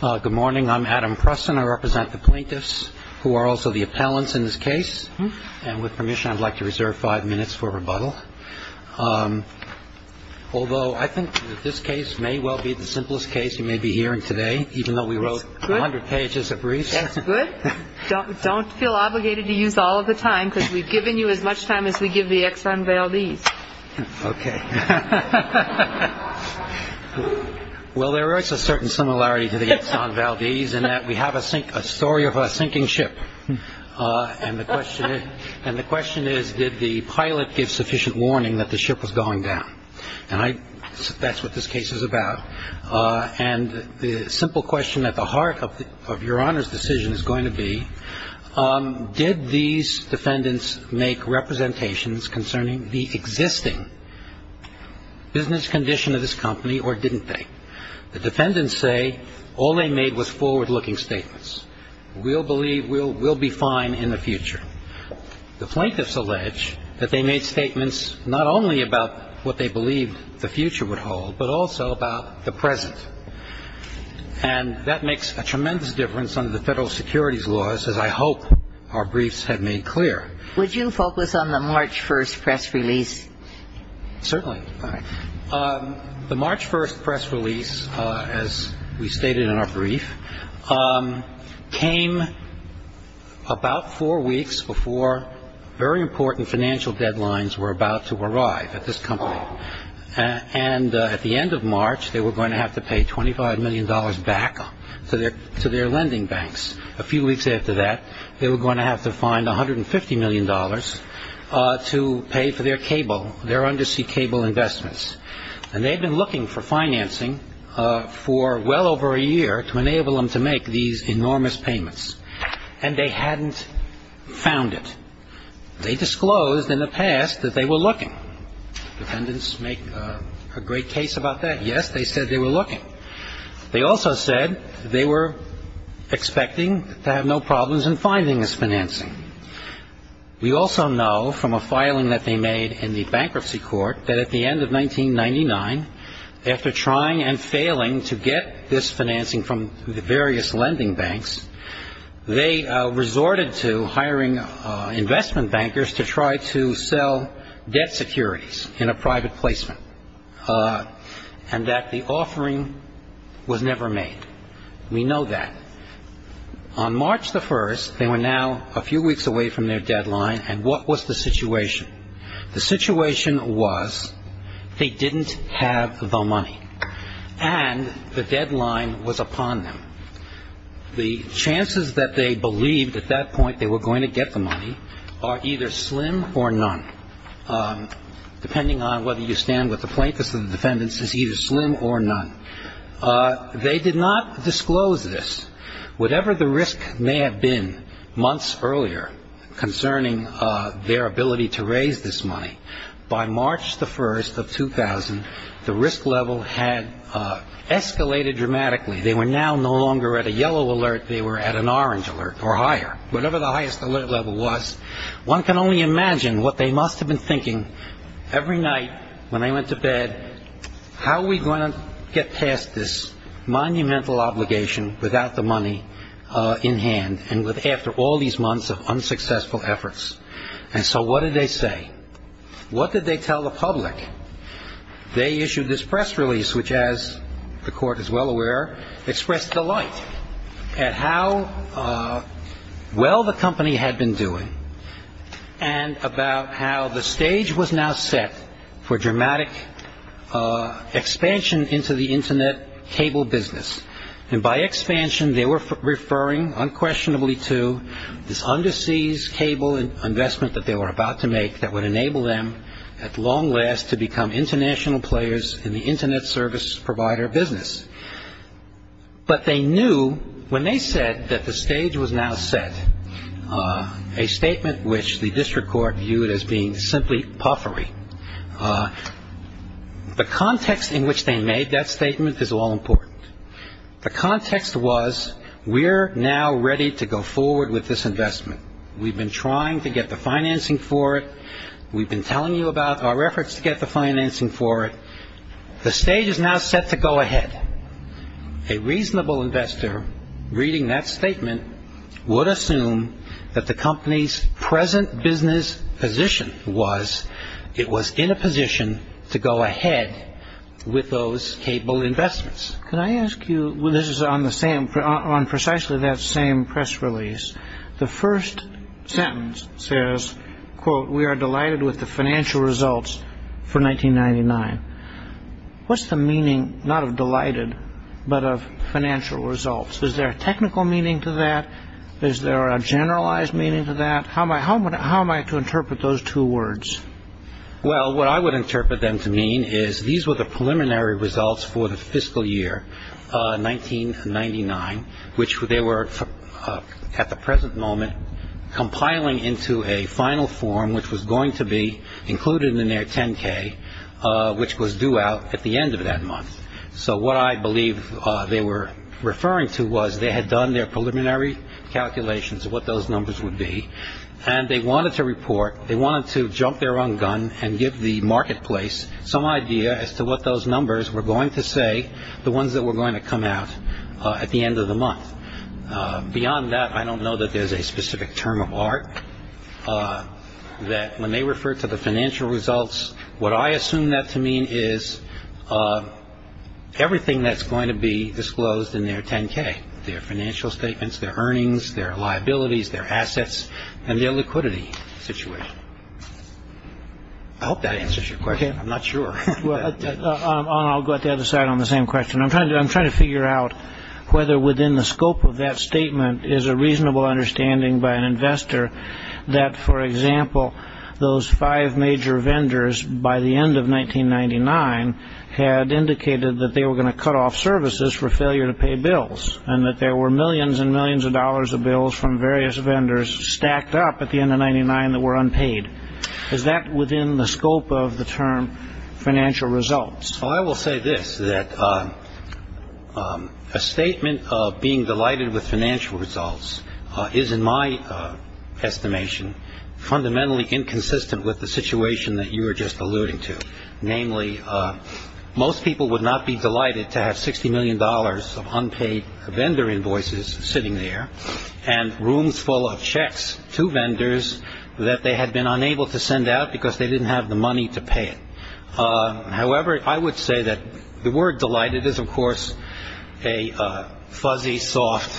Good morning. I'm Adam Preston. I represent the plaintiffs who are also the appellants in this case. And with permission, I'd like to reserve five minutes for rebuttal. Although I think that this case may well be the simplest case you may be hearing today, even though we wrote 100 pages of briefs. That's good. Don't feel obligated to use all of the time because we've given you as much time as we give the ex-convailees. OK. Well, there is a certain similarity to the ex-convailees in that we have a sink a story of a sinking ship. And the question and the question is, did the pilot give sufficient warning that the ship was going down? And that's what this case is about. And the simple question at the heart of your honor's decision is going to be, did these defendants make representations concerning the existing business condition of this company or didn't they? The defendants say all they made was forward looking statements. We'll believe we'll we'll be fine in the future. The plaintiffs allege that they made statements not only about what they believed the future would hold, but also about the present. And that makes a tremendous difference under the federal securities laws, as I hope our briefs have made clear. Would you focus on the March 1st press release? Certainly. The March 1st press release, as we stated in our brief, came about four weeks before very important financial deadlines were about to arrive at this company. And at the end of March, they were going to have to pay twenty five million dollars back to their to their lending banks. A few weeks after that, they were going to have to find one hundred and fifty million dollars to pay for their cable, their undersea cable investments. And they've been looking for financing for well over a year to enable them to make these enormous payments. And they hadn't found it. They disclosed in the past that they were looking. Defendants make a great case about that. Yes, they said they were looking. They also said they were expecting to have no problems in finding this financing. We also know from a filing that they made in the bankruptcy court that at the end of 1999, after trying and failing to get this financing from the various lending banks, they resorted to hiring investment bankers to try to sell debt securities in a private placement and that the offering was never made. We know that. On March the 1st, they were now a few weeks away from their deadline. And what was the situation? The situation was they didn't have the money and the deadline was upon them. The chances that they believed at that point they were going to get the money are either slim or none, depending on whether you stand with the plaintiffs and defendants is either slim or none. They did not disclose this. Whatever the risk may have been months earlier concerning their ability to raise this money, by March the 1st of 2000, the risk level had escalated dramatically. They were now no longer at a yellow alert. They were at an orange alert or higher, whatever the highest alert level was. One can only imagine what they must have been thinking every night when they went to bed. How are we going to get past this monumental obligation without the money in hand and after all these months of unsuccessful efforts? And so what did they say? What did they tell the public? They issued this press release, which, as the court is well aware, expressed delight at how well the company had been doing and about how the stage was now set for dramatic expansion into the Internet cable business. And by expansion, they were referring unquestionably to this underseas cable investment that they were about to make that would enable them at long last to become international players in the Internet service provider business. But they knew when they said that the stage was now set, a statement which the district court viewed as being simply puffery, the context in which they made that statement is all important. The context was we're now ready to go forward with this investment. We've been trying to get the financing for it. We've been telling you about our efforts to get the financing for it. The stage is now set to go ahead. A reasonable investor reading that statement would assume that the company's present business position was it was in a position to go ahead with those cable investments. Can I ask you, this is on precisely that same press release, the first sentence says, quote, we are delighted with the financial results for 1999. What's the meaning not of delighted, but of financial results? Is there a technical meaning to that? Is there a generalized meaning to that? How am I to interpret those two words? Well, what I would interpret them to mean is these were the preliminary results for the fiscal year 1999, which they were at the present moment compiling into a final form, which was going to be included in their 10 K, which was due out at the end of that month. So what I believe they were referring to was they had done their preliminary calculations of what those numbers would be. And they wanted to report. They wanted to jump their own gun and give the marketplace some idea as to what those numbers were going to say. The ones that were going to come out at the end of the month. Beyond that, I don't know that there's a specific term of art that when they refer to the financial results. What I assume that to mean is everything that's going to be disclosed in their 10 K, their financial statements, their earnings, their liabilities, their assets and their liquidity situation. I hope that answers your question. I'm not sure. I'll go to the other side on the same question. I'm trying to figure out whether within the scope of that statement is a reasonable understanding by an investor that, for example, those five major vendors by the end of 1999 had indicated that they were going to cut off services for failure to pay bills and that there were millions and millions of dollars of bills from various vendors stacked up at the end of 99 that were unpaid. Is that within the scope of the term financial results? Well, I will say this, that a statement of being delighted with financial results is, in my estimation, fundamentally inconsistent with the situation that you were just alluding to. Namely, most people would not be delighted to have 60 million dollars of unpaid vendor invoices sitting there and rooms full of checks to vendors that they had been unable to send out because they didn't have the money to pay it. However, I would say that the word delighted is, of course, a fuzzy, soft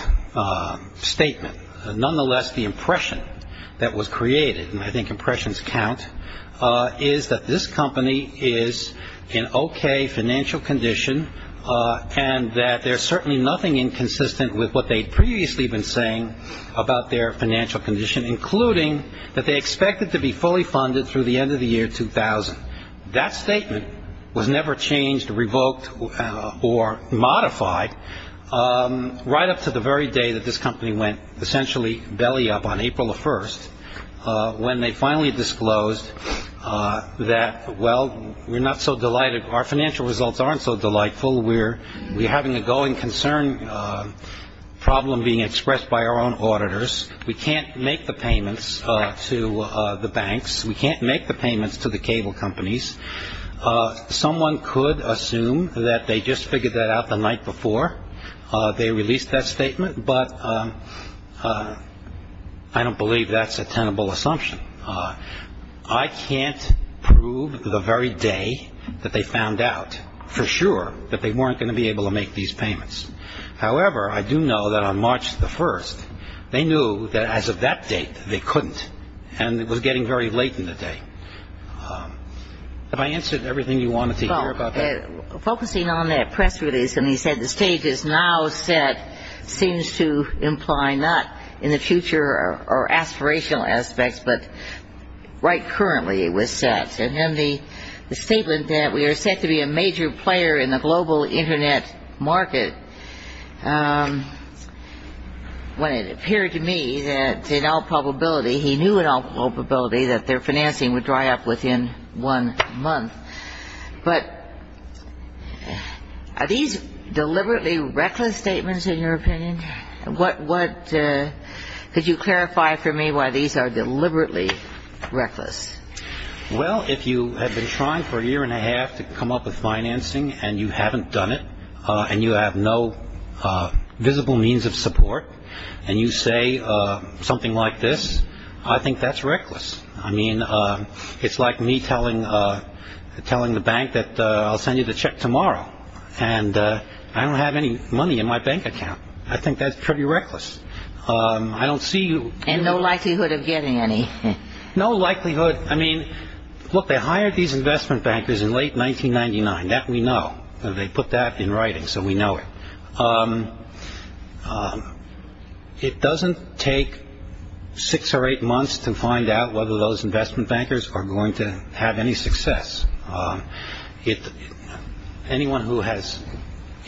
statement. Nonetheless, the impression that was created, and I think impressions count, is that this company is in OK financial condition and that there's certainly nothing inconsistent with what they'd previously been saying about their financial condition, including that they expected to be fully funded through the end of the year 2000. That statement was never changed, revoked, or modified right up to the very day that this company went essentially belly up on April 1st, when they finally disclosed that, well, we're not so delighted. Our financial results aren't so delightful. We're having a going concern problem being expressed by our own auditors. We can't make the payments to the banks. We can't make the payments to the cable companies. Someone could assume that they just figured that out the night before they released that statement, but I don't believe that's a tenable assumption. I can't prove the very day that they found out for sure that they weren't going to be able to make these payments. However, I do know that on March the 1st, they knew that as of that date, they couldn't, and it was getting very late in the day. Have I answered everything you wanted to hear about that? Focusing on that press release, and he said the stage is now set, seems to imply not in the future or aspirational aspects, but right currently it was set. And then the statement that we are set to be a major player in the global Internet market, when it appeared to me that in all probability, he knew in all probability, that their financing would dry up within one month. But are these deliberately reckless statements in your opinion? Could you clarify for me why these are deliberately reckless? Well, if you have been trying for a year and a half to come up with financing and you haven't done it, and you have no visible means of support, and you say something like this, I think that's reckless. I mean, it's like me telling the bank that I'll send you the check tomorrow, and I don't have any money in my bank account. I think that's pretty reckless. And no likelihood of getting any? No likelihood. I mean, look, they hired these investment bankers in late 1999. That we know. They put that in writing, so we know it. It doesn't take six or eight months to find out whether those investment bankers are going to have any success. Anyone who has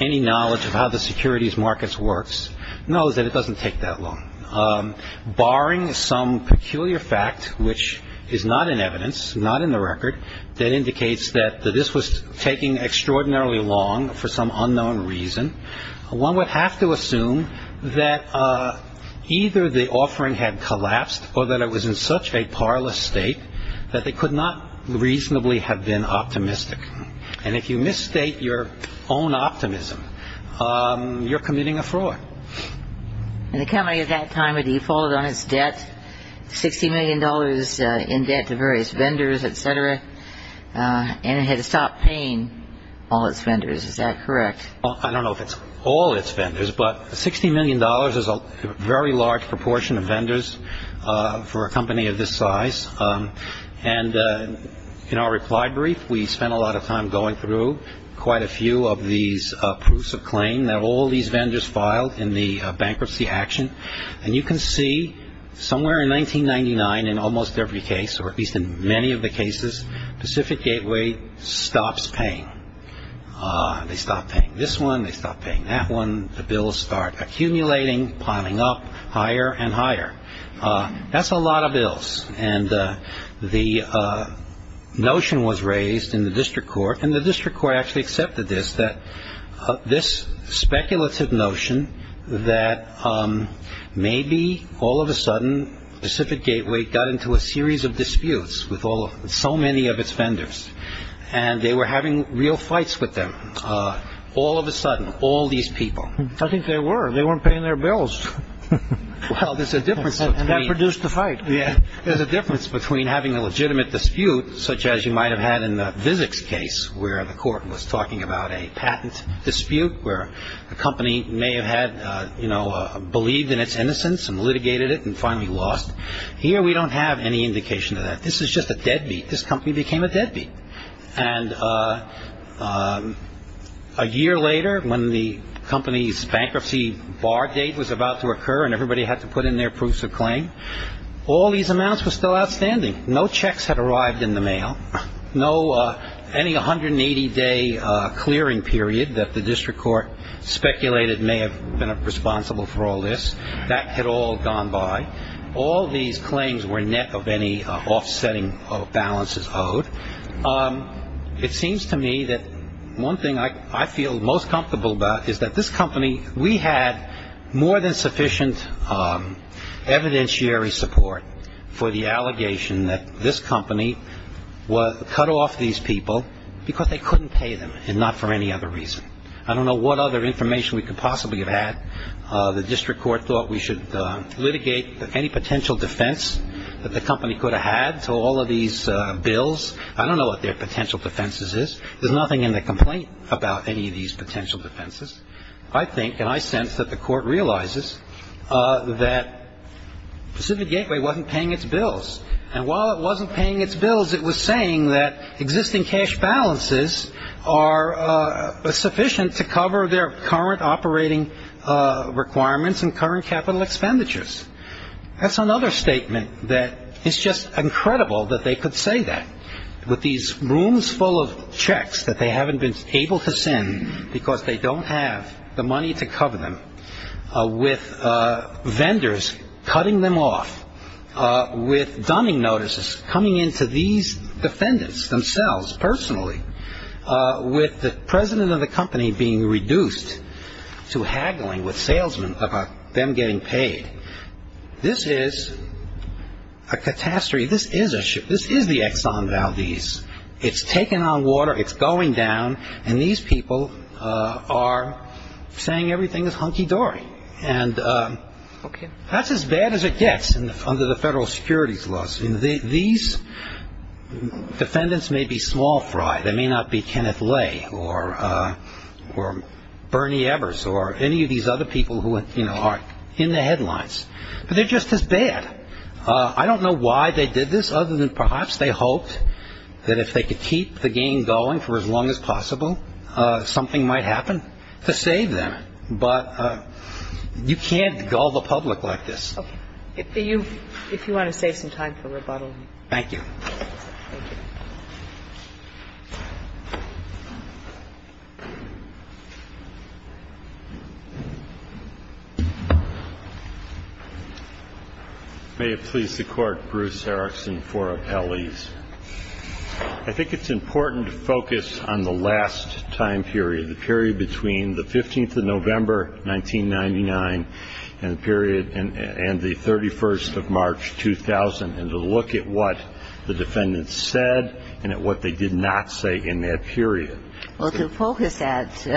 any knowledge of how the securities markets works knows that it doesn't take that long. Barring some peculiar fact, which is not in evidence, not in the record, that indicates that this was taking extraordinarily long for some unknown reason, one would have to assume that either the offering had collapsed or that it was in such a parlous state that they could not reasonably have been optimistic. And if you misstate your own optimism, you're committing a fraud. And the company at that time had defaulted on its debt, $60 million in debt to various vendors, et cetera, and it had stopped paying all its vendors. Is that correct? I don't know if it's all its vendors, but $60 million is a very large proportion of vendors for a company of this size. And in our reply brief, we spent a lot of time going through quite a few of these proofs of claim. They're all these vendors filed in the bankruptcy action. And you can see somewhere in 1999 in almost every case, or at least in many of the cases, Pacific Gateway stops paying. They stop paying this one. They stop paying that one. The bills start accumulating, piling up higher and higher. That's a lot of bills. And the notion was raised in the district court, and the district court actually accepted this, that this speculative notion that maybe all of a sudden Pacific Gateway got into a series of disputes with all of so many of its vendors and they were having real fights with them. All of a sudden, all these people. I think they were. They weren't paying their bills. Well, there's a difference. And that produced the fight. There's a difference between having a legitimate dispute, such as you might have had in the Vizics case where the court was talking about a patent dispute where a company may have believed in its innocence and litigated it and finally lost. Here we don't have any indication of that. This is just a deadbeat. This company became a deadbeat. And a year later, when the company's bankruptcy bar date was about to occur and everybody had to put in their proofs of claim, all these amounts were still outstanding. No checks had arrived in the mail. Any 180-day clearing period that the district court speculated may have been responsible for all this, that had all gone by. All these claims were net of any offsetting of balances owed. It seems to me that one thing I feel most comfortable about is that this company, we had more than sufficient evidentiary support for the allegation that this company cut off these people because they couldn't pay them and not for any other reason. I don't know what other information we could possibly have had. The district court thought we should litigate any potential defense that the company could have had to all of these bills. I don't know what their potential defense is. There's nothing in the complaint about any of these potential defenses. I think and I sense that the court realizes that Pacific Gateway wasn't paying its bills. And while it wasn't paying its bills, it was saying that existing cash balances are sufficient to cover their current operating requirements and current capital expenditures. That's another statement that it's just incredible that they could say that. With these rooms full of checks that they haven't been able to send because they don't have the money to cover them, with vendors cutting them off, with dunning notices coming into these defendants themselves personally, with the president of the company being reduced to haggling with salesmen about them getting paid, this is a catastrophe. This is the Exxon Valdez. It's taken on water. It's going down. And these people are saying everything is hunky-dory. And that's as bad as it gets under the federal securities laws. These defendants may be small fry. They may not be Kenneth Lay or Bernie Evers or any of these other people who are in the headlines. But they're just as bad. I don't know why they did this other than perhaps they hoped that if they could keep the game going for as long as possible, something might happen to save them. But you can't gull the public like this. Okay. If you want to save some time for rebuttal. Thank you. Thank you. May it please the Court, Bruce Erickson for appellees. I think it's important to focus on the last time period, the period between the 15th of November, 1999, and the 31st of March, 2000, and to look at what the defendants said and at what they did not say in that period. Well, to focus that,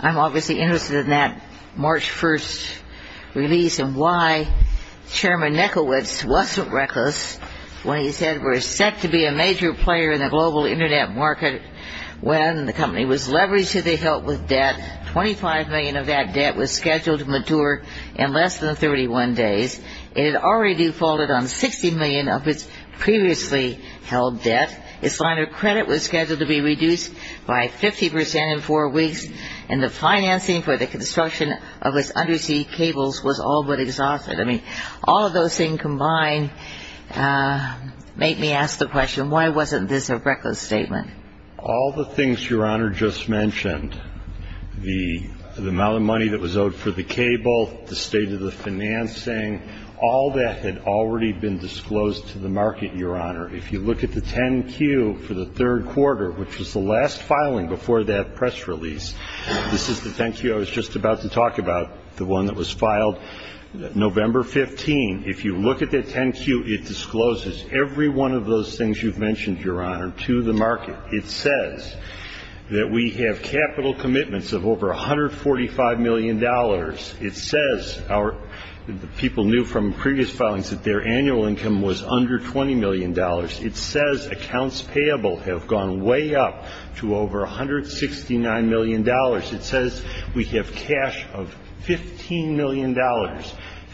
I'm obviously interested in that March 1st release and why Chairman Nickowitz wasn't reckless when he said we're set to be a major player in the global Internet market. When the company was leveraged to the hilt with debt, 25 million of that debt was scheduled to mature in less than 31 days. It had already defaulted on 60 million of its previously held debt. Its line of credit was scheduled to be reduced by 50 percent in four weeks, and the financing for the construction of its undersea cables was all but exhausted. I mean, all of those things combined make me ask the question, why wasn't this a reckless statement? All the things Your Honor just mentioned, the amount of money that was owed for the cable, the state of the financing, all that had already been disclosed to the market, Your Honor. If you look at the 10-Q for the third quarter, which was the last filing before that press release, this is the 10-Q I was just about to talk about, the one that was filed November 15. If you look at that 10-Q, it discloses every one of those things you've mentioned, Your Honor, to the market. It says that we have capital commitments of over $145 million. It says our people knew from previous filings that their annual income was under $20 million. It says accounts payable have gone way up to over $169 million. It says we have cash of $15 million.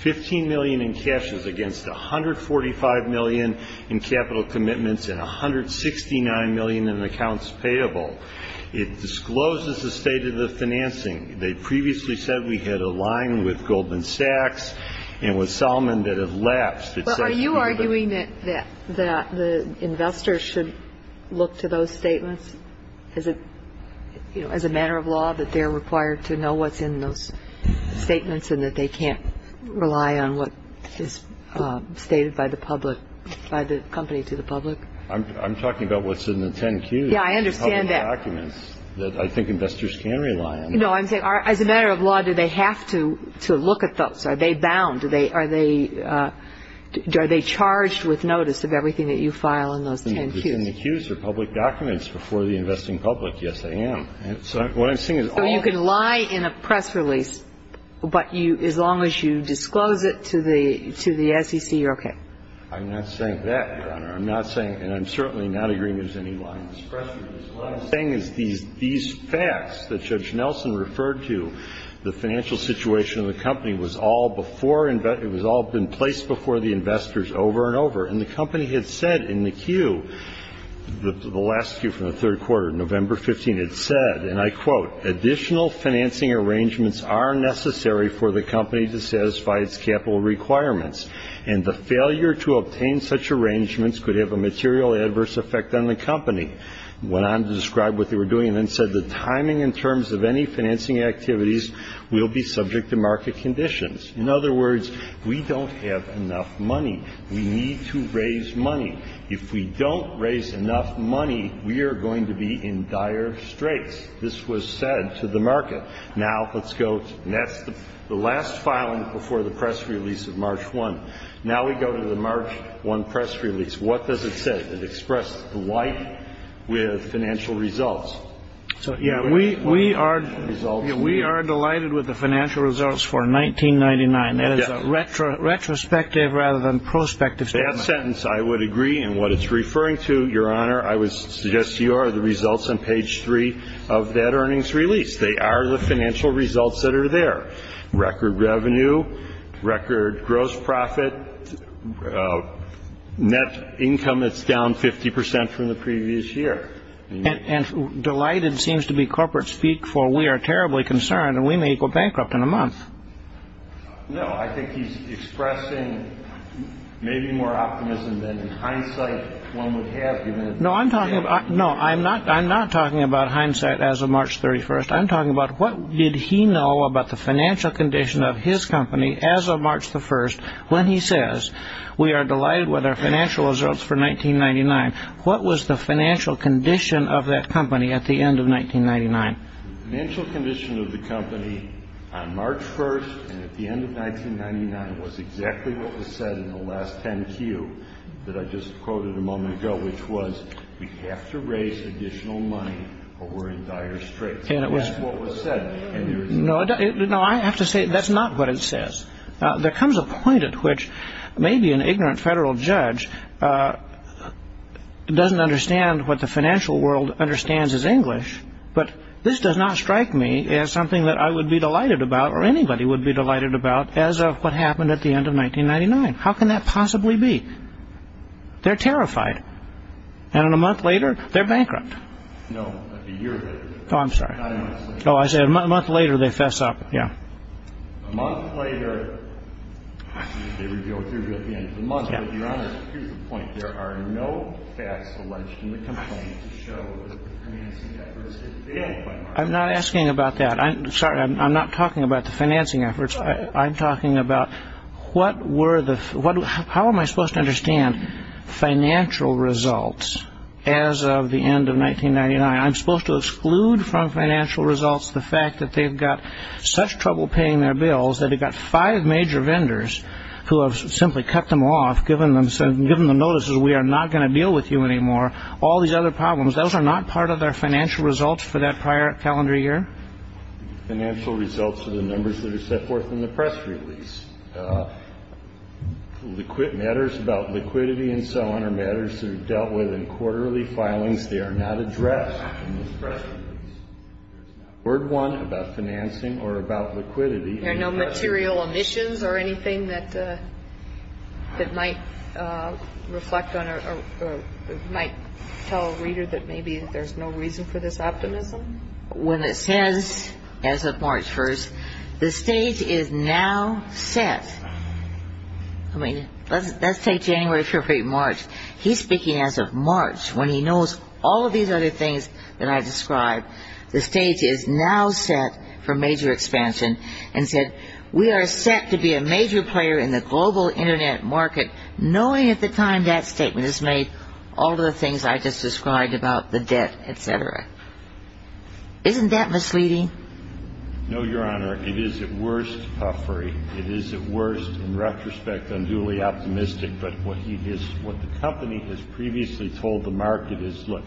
$15 million in cash is against $145 million in capital commitments and $169 million in accounts payable. It discloses the state of the financing. They previously said we had a line with Goldman Sachs and with Salman that it lapsed. But are you arguing that the investors should look to those statements as a matter of law, that they're required to know what's in those statements and that they can't rely on what is stated by the public, by the company to the public? I'm talking about what's in the 10-Q. Yeah, I understand that. Public documents that I think investors can rely on. No, I'm saying as a matter of law, do they have to look at those? Are they bound? Are they charged with notice of everything that you file in those 10-Qs? The 10-Qs are public documents before the investing public. Yes, they are. What I'm saying is all of them. So you can lie in a press release, but as long as you disclose it to the SEC, you're okay? I'm not saying that, Your Honor. I'm not saying, and I'm certainly not agreeing there's any lying in this press release. What I'm saying is these facts that Judge Nelson referred to, the financial situation of the company, it was all been placed before the investors over and over. And the company had said in the Q, the last Q from the third quarter, November 15, it said, and I quote, additional financing arrangements are necessary for the company to satisfy its capital requirements, and the failure to obtain such arrangements could have a material adverse effect on the company. It went on to describe what they were doing and then said the timing in terms of any financing activities will be subject to market conditions. In other words, we don't have enough money. We need to raise money. If we don't raise enough money, we are going to be in dire straits. This was said to the market. Now, let's go, and that's the last filing before the press release of March 1. Now we go to the March 1 press release. What does it say? It expressed delight with financial results. So, yeah, we are delighted with the financial results for 1999. That is a retrospective rather than prospective statement. That sentence I would agree, and what it's referring to, Your Honor, I would suggest to you are the results on page 3 of that earnings release. They are the financial results that are there. Record revenue, record gross profit, net income that's down 50 percent from the previous year. And delighted seems to be corporate speak for we are terribly concerned and we may go bankrupt in a month. No, I think he's expressing maybe more optimism than in hindsight one would have given. No, I'm not talking about hindsight as of March 31. I'm talking about what did he know about the financial condition of his company as of March 1 when he says we are delighted with our financial results for 1999. What was the financial condition of that company at the end of 1999? The financial condition of the company on March 1 and at the end of 1999 was exactly what was said in the last 10Q that I just quoted a moment ago, which was we have to raise additional money or we're in dire straits. That's what was said. No, I have to say that's not what it says. There comes a point at which maybe an ignorant federal judge doesn't understand what the financial world understands as English, but this does not strike me as something that I would be delighted about or anybody would be delighted about as of what happened at the end of 1999. How can that possibly be? They're terrified. And a month later, they're bankrupt. No, not a year later. Oh, I'm sorry. Not a month later. Oh, I said a month later, they fess up. A month later, they go through at the end of the month. But, Your Honor, here's the point. There are no facts alleged in the complaint to show that the financing efforts had failed by March 1. I'm not asking about that. Sorry, I'm not talking about the financing efforts. I'm talking about what were the – how am I supposed to understand financial results as of the end of 1999? I'm supposed to exclude from financial results the fact that they've got such trouble paying their bills that they've got five major vendors who have simply cut them off, given them notices we are not going to deal with you anymore, all these other problems. Those are not part of their financial results for that prior calendar year? Financial results are the numbers that are set forth in the press release. Matters about liquidity and so on are matters that are dealt with in quarterly filings. They are not addressed in this press release. There's not a word, one, about financing or about liquidity. There are no material omissions or anything that might reflect on or might tell a reader that maybe there's no reason for this optimism? So when it says, as of March 1, the stage is now set – I mean, let's take January, February, March. He's speaking as of March, when he knows all of these other things that I described. The stage is now set for major expansion and said, we are set to be a major player in the global Internet market, knowing at the time that statement is made all of the things I just described about the debt, et cetera. Isn't that misleading? No, Your Honor. It is at worst puffery. It is at worst, in retrospect, unduly optimistic. But what the company has previously told the market is, look,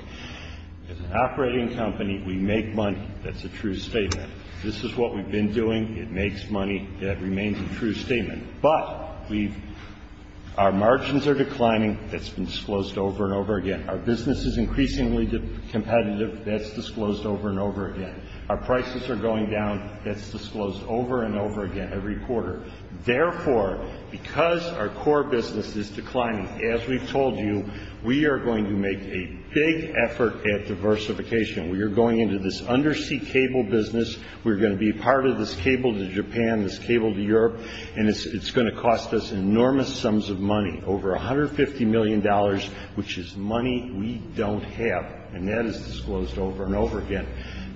as an operating company, we make money. That's a true statement. This is what we've been doing. It makes money. That remains a true statement. But we've – our margins are declining. That's been disclosed over and over again. Our business is increasingly competitive. That's disclosed over and over again. Our prices are going down. That's disclosed over and over again every quarter. Therefore, because our core business is declining, as we've told you, we are going to make a big effort at diversification. We are going into this undersea cable business. We're going to be part of this cable to Japan, this cable to Europe. And it's going to cost us enormous sums of money, over $150 million, which is money we don't have. And that is disclosed over and over again.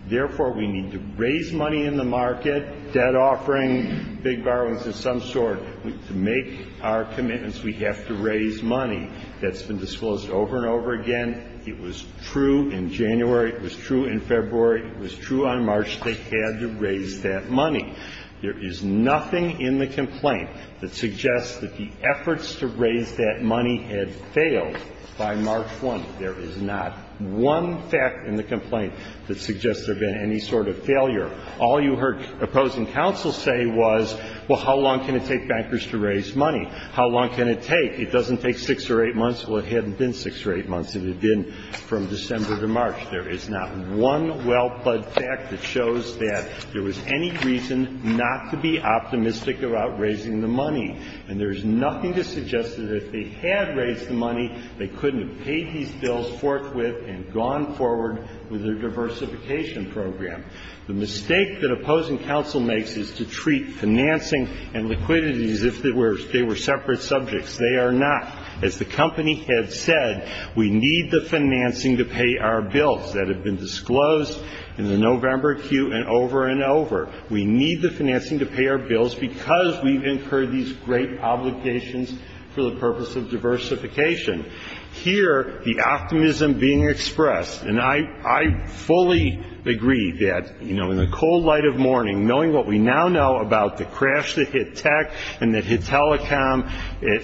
Therefore, we need to raise money in the market, debt offering, big borrowings of some sort. To make our commitments, we have to raise money. That's been disclosed over and over again. It was true in January. It was true in February. It was true on March. They had to raise that money. There is nothing in the complaint that suggests that the efforts to raise that money had failed by March 1. There is not one fact in the complaint that suggests there had been any sort of failure. All you heard opposing counsel say was, well, how long can it take bankers to raise money? How long can it take? It doesn't take 6 or 8 months. Well, it hadn't been 6 or 8 months. It had been from December to March. There is not one well-plugged fact that shows that there was any reason not to be optimistic about raising the money. And there is nothing to suggest that if they had raised the money, they couldn't have paid these bills forthwith and gone forward with their diversification program. The mistake that opposing counsel makes is to treat financing and liquidity as if they were separate subjects. They are not. As the company has said, we need the financing to pay our bills that have been disclosed in the November queue and over and over. We need the financing to pay our bills because we've incurred these great obligations for the purpose of diversification. Here, the optimism being expressed, and I fully agree that in the cold light of morning, knowing what we now know about the crash that hit tech and that hit telecom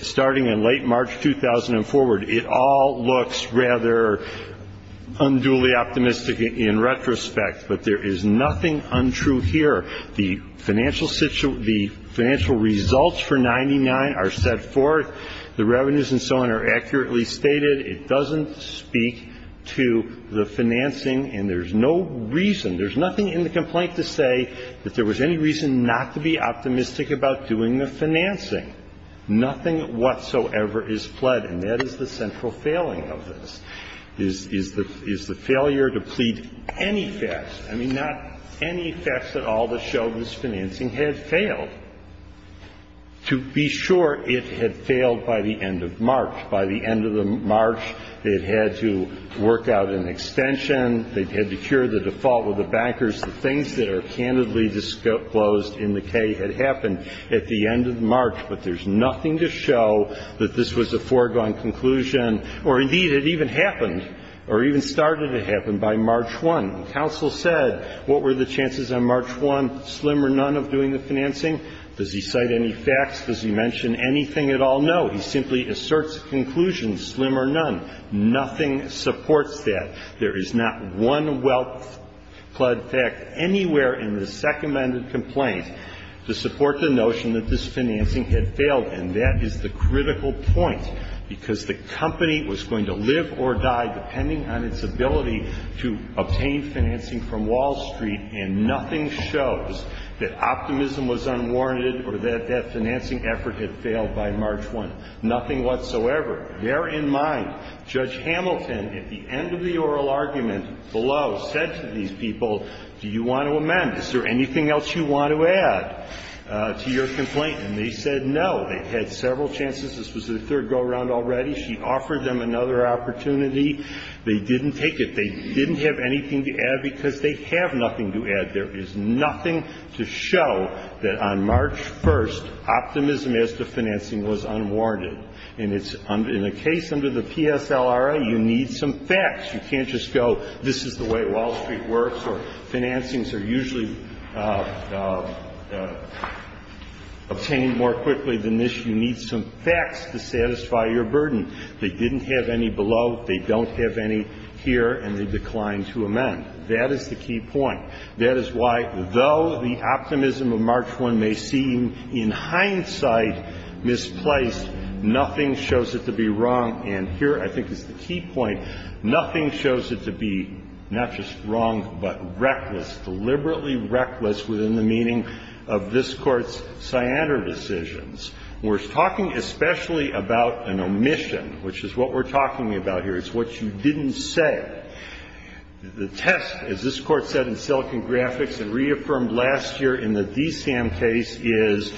starting in late March 2004, it all looks rather unduly optimistic in retrospect, but there is nothing untrue here. The financial results for 99 are set forth. The revenues and so on are accurately stated. It doesn't speak to the financing, and there's no reason, there's nothing in the complaint to say that there was any reason not to be optimistic about doing the financing. Nothing whatsoever is fled, and that is the central failing of this, is the failure to plead any facts. I mean, not any facts at all that show this financing had failed. To be sure, it had failed by the end of March. By the end of March, they had had to work out an extension. They had to cure the default with the bankers. The things that are candidly disclosed in the K had happened at the end of March, but there's nothing to show that this was a foregone conclusion, or indeed, it even happened, or even started to happen by March 1. When counsel said, what were the chances on March 1, slim or none, of doing the financing, does he cite any facts? Does he mention anything at all? No. He simply asserts a conclusion, slim or none. Nothing supports that. There is not one well-pled fact anywhere in the second-mended complaint to support the notion that this financing had failed, and that is the critical point, because the company was going to live or die depending on its ability to obtain financing from Wall Street, and nothing shows that optimism was unwarranted or that that financing effort had failed by March 1. Nothing whatsoever. Bear in mind, Judge Hamilton, at the end of the oral argument below, said to these people, do you want to amend? Is there anything else you want to add to your complaint? And they said no. They had several chances. This was the third go-around already. She offered them another opportunity. They didn't take it. They didn't have anything to add because they have nothing to add. There is nothing to show that on March 1, optimism as to financing was unwarranted, and it's in a case under the PSLRA, you need some facts. You can't just go, this is the way Wall Street works, or financings are usually obtained more quickly than this. You need some facts to satisfy your burden. They didn't have any below. They don't have any here, and they declined to amend. That is the key point. That is why, though the optimism of March 1 may seem in hindsight misplaced, nothing shows it to be wrong, and here I think is the key point. Nothing shows it to be not just wrong, but reckless, deliberately reckless within the meaning of this Court's Sciander decisions. We're talking especially about an omission, which is what we're talking about here. It's what you didn't say. The test, as this Court said in Silicon Graphics and reaffirmed last year in the DSAM case, is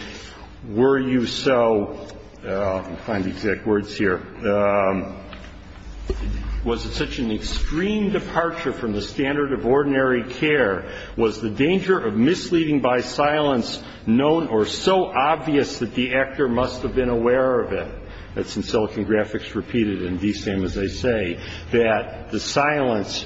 were you so, let me find the exact words here, was it such an extreme departure from the standard of ordinary care? Was the danger of misleading by silence known or so obvious that the actor must have been aware of it? That's in Silicon Graphics repeated in DSAM, as they say. That the silence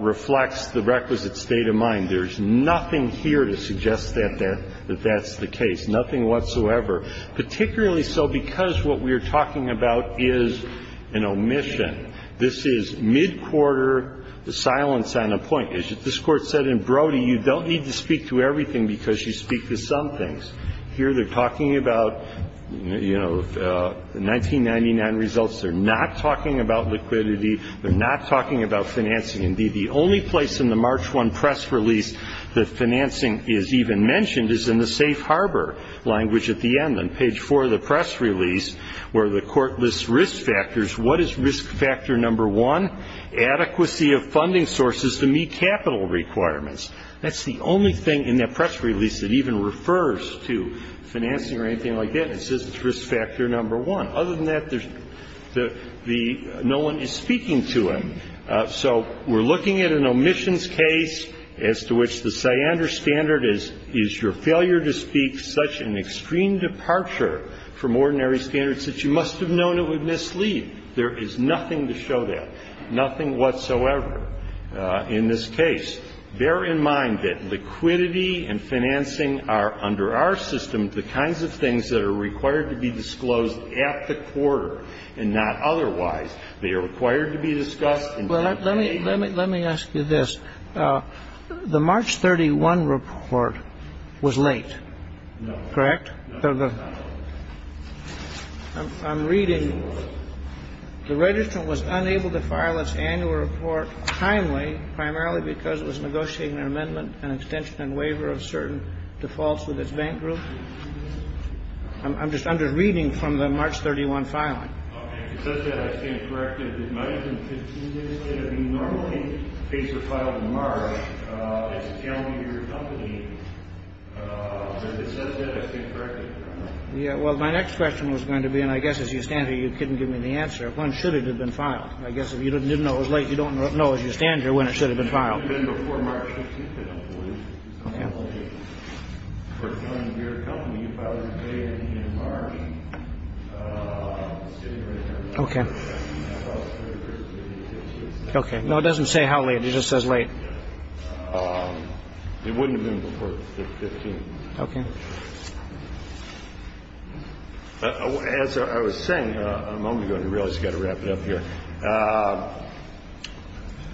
reflects the requisite state of mind. There's nothing here to suggest that that's the case, nothing whatsoever. Particularly so because what we're talking about is an omission. This is mid-quarter silence on a point. As this Court said in Brody, you don't need to speak to everything because you speak to some things. Here they're talking about, you know, the 1999 results. They're not talking about liquidity. They're not talking about financing. Indeed, the only place in the March 1 press release that financing is even mentioned is in the safe harbor language at the end on page 4 of the press release where the Court lists risk factors. What is risk factor number one? Adequacy of funding sources to meet capital requirements. That's the only thing in that press release that even refers to financing or anything like that. It says it's risk factor number one. Other than that, there's the no one is speaking to it. So we're looking at an omissions case as to which the cyander standard is your failure to speak such an extreme departure from ordinary standards that you must have known it would mislead. There is nothing to show that. Nothing whatsoever in this case. Bear in mind that liquidity and financing are, under our system, the kinds of things that are required to be disclosed at the quarter and not otherwise. They are required to be discussed. Let me ask you this. The March 31 report was late, correct? No. I'm reading. The registrant was unable to file its annual report timely, primarily because it was negotiating an amendment, an extension and waiver of certain defaults with its bank group. I'm just I'm just reading from the March 31 filing. It says that I stand corrected. It might have been 15 years ago. You normally face your file in March. It can't be your company. It says that I stand corrected. Yeah. Well, my next question was going to be and I guess as you stand here, you couldn't give me the answer. When should it have been filed? I guess if you didn't know it was late, you don't know if you stand here when it should have been filed. It wouldn't have been before March 15th, I don't believe. Okay. For your company, you filed it today in March. Okay. Okay. No, it doesn't say how late. It just says late. It wouldn't have been before the 15th. Okay. As I was saying a moment ago, and I realize I've got to wrap it up here.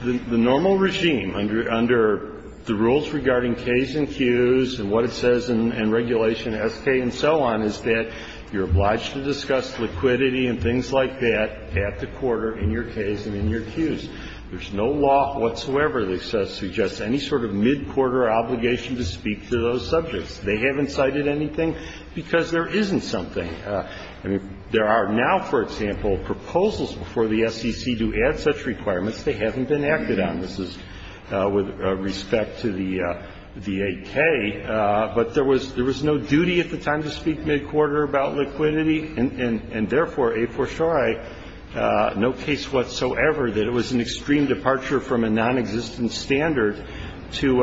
The normal regime under the rules regarding K's and Q's and what it says in Regulation S.K. and so on is that you're obliged to discuss liquidity and things like that at the quarter in your K's and in your Q's. There's no law whatsoever that suggests any sort of mid-quarter obligation to speak to those subjects. They haven't cited anything because there isn't something. I mean, there are now, for example, proposals before the SEC to add such requirements. They haven't been acted on. This is with respect to the 8K. But there was no duty at the time to speak mid-quarter about liquidity, and therefore, a for surei, no case whatsoever that it was an extreme departure from a nonexistent standard to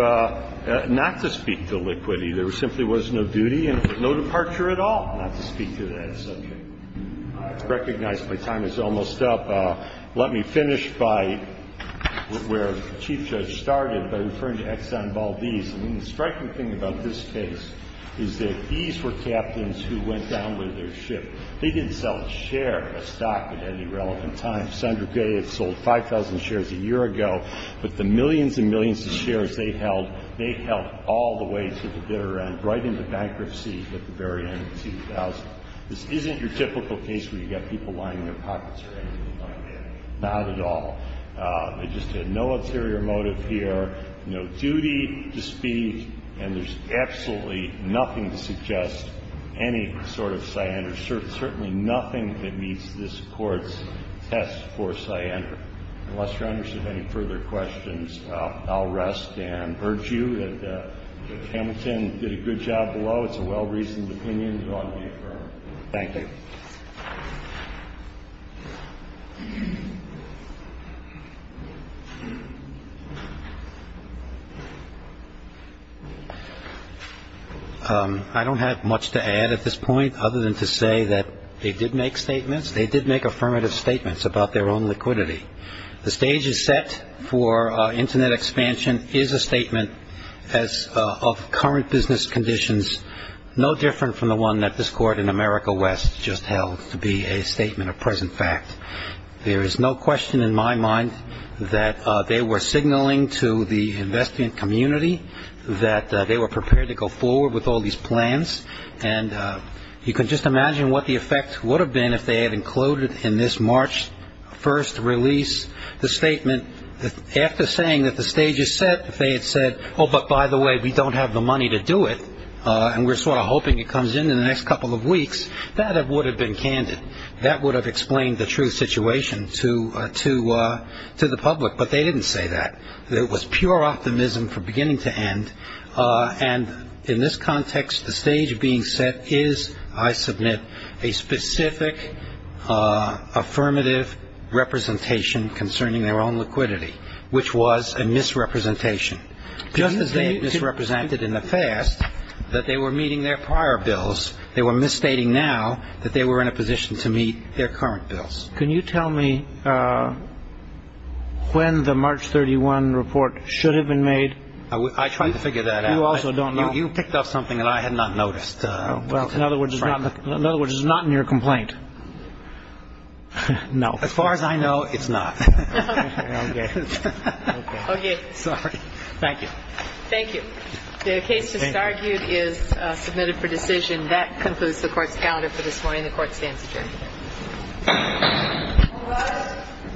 not to speak to liquidity. There simply was no duty and no departure at all not to speak to that subject. I recognize my time is almost up. Let me finish by where the Chief Judge started by referring to Exxon Valdez. I mean, the striking thing about this case is that these were captains who went down with their ship. They didn't sell a share of stock at any relevant time. Sandra Gay had sold 5,000 shares a year ago. But the millions and millions of shares they held, they held all the way to the bitter end, right into bankruptcy at the very end of 2000. This isn't your typical case where you've got people lining their pockets or anything like that. Not at all. They just had no ulterior motive here, no duty to speak, and there's absolutely nothing to suggest any sort of scientific, certainly nothing that meets this Court's test for scientific. Unless Your Honor has any further questions, I'll rest and urge you that Hamilton did a good job below. It's a well-reasoned opinion. It ought to be affirmed. Thank you. I don't have much to add at this point other than to say that they did make statements. They did make affirmative statements about their own liquidity. The stage is set for Internet expansion is a statement of current business conditions no different from the one that this Court in America West just held to be a statement of present fact. There is no question in my mind that they were signaling to the investment community that they were prepared to go forward with all these plans. And you can just imagine what the effect would have been if they had included in this March 1st release the statement that after saying that the stage is set, if they had said, oh, but by the way, we don't have the money to do it, and we're sort of hoping it comes in in the next couple of weeks, that would have been candid. That would have explained the true situation to the public. But they didn't say that. It was pure optimism from beginning to end. And in this context, the stage being set is, I submit, a specific affirmative representation concerning their own liquidity, which was a misrepresentation. Just as they misrepresented in the past that they were meeting their prior bills, they were misstating now that they were in a position to meet their current bills. Can you tell me when the March 31 report should have been made? I tried to figure that out. You also don't know? You picked up something that I had not noticed. Well, in other words, it's not in your complaint. No. As far as I know, it's not. Okay. Okay. Sorry. Thank you. Thank you. The case just argued is submitted for decision. That concludes the court's calendar for this morning. The court stands adjourned. All rise.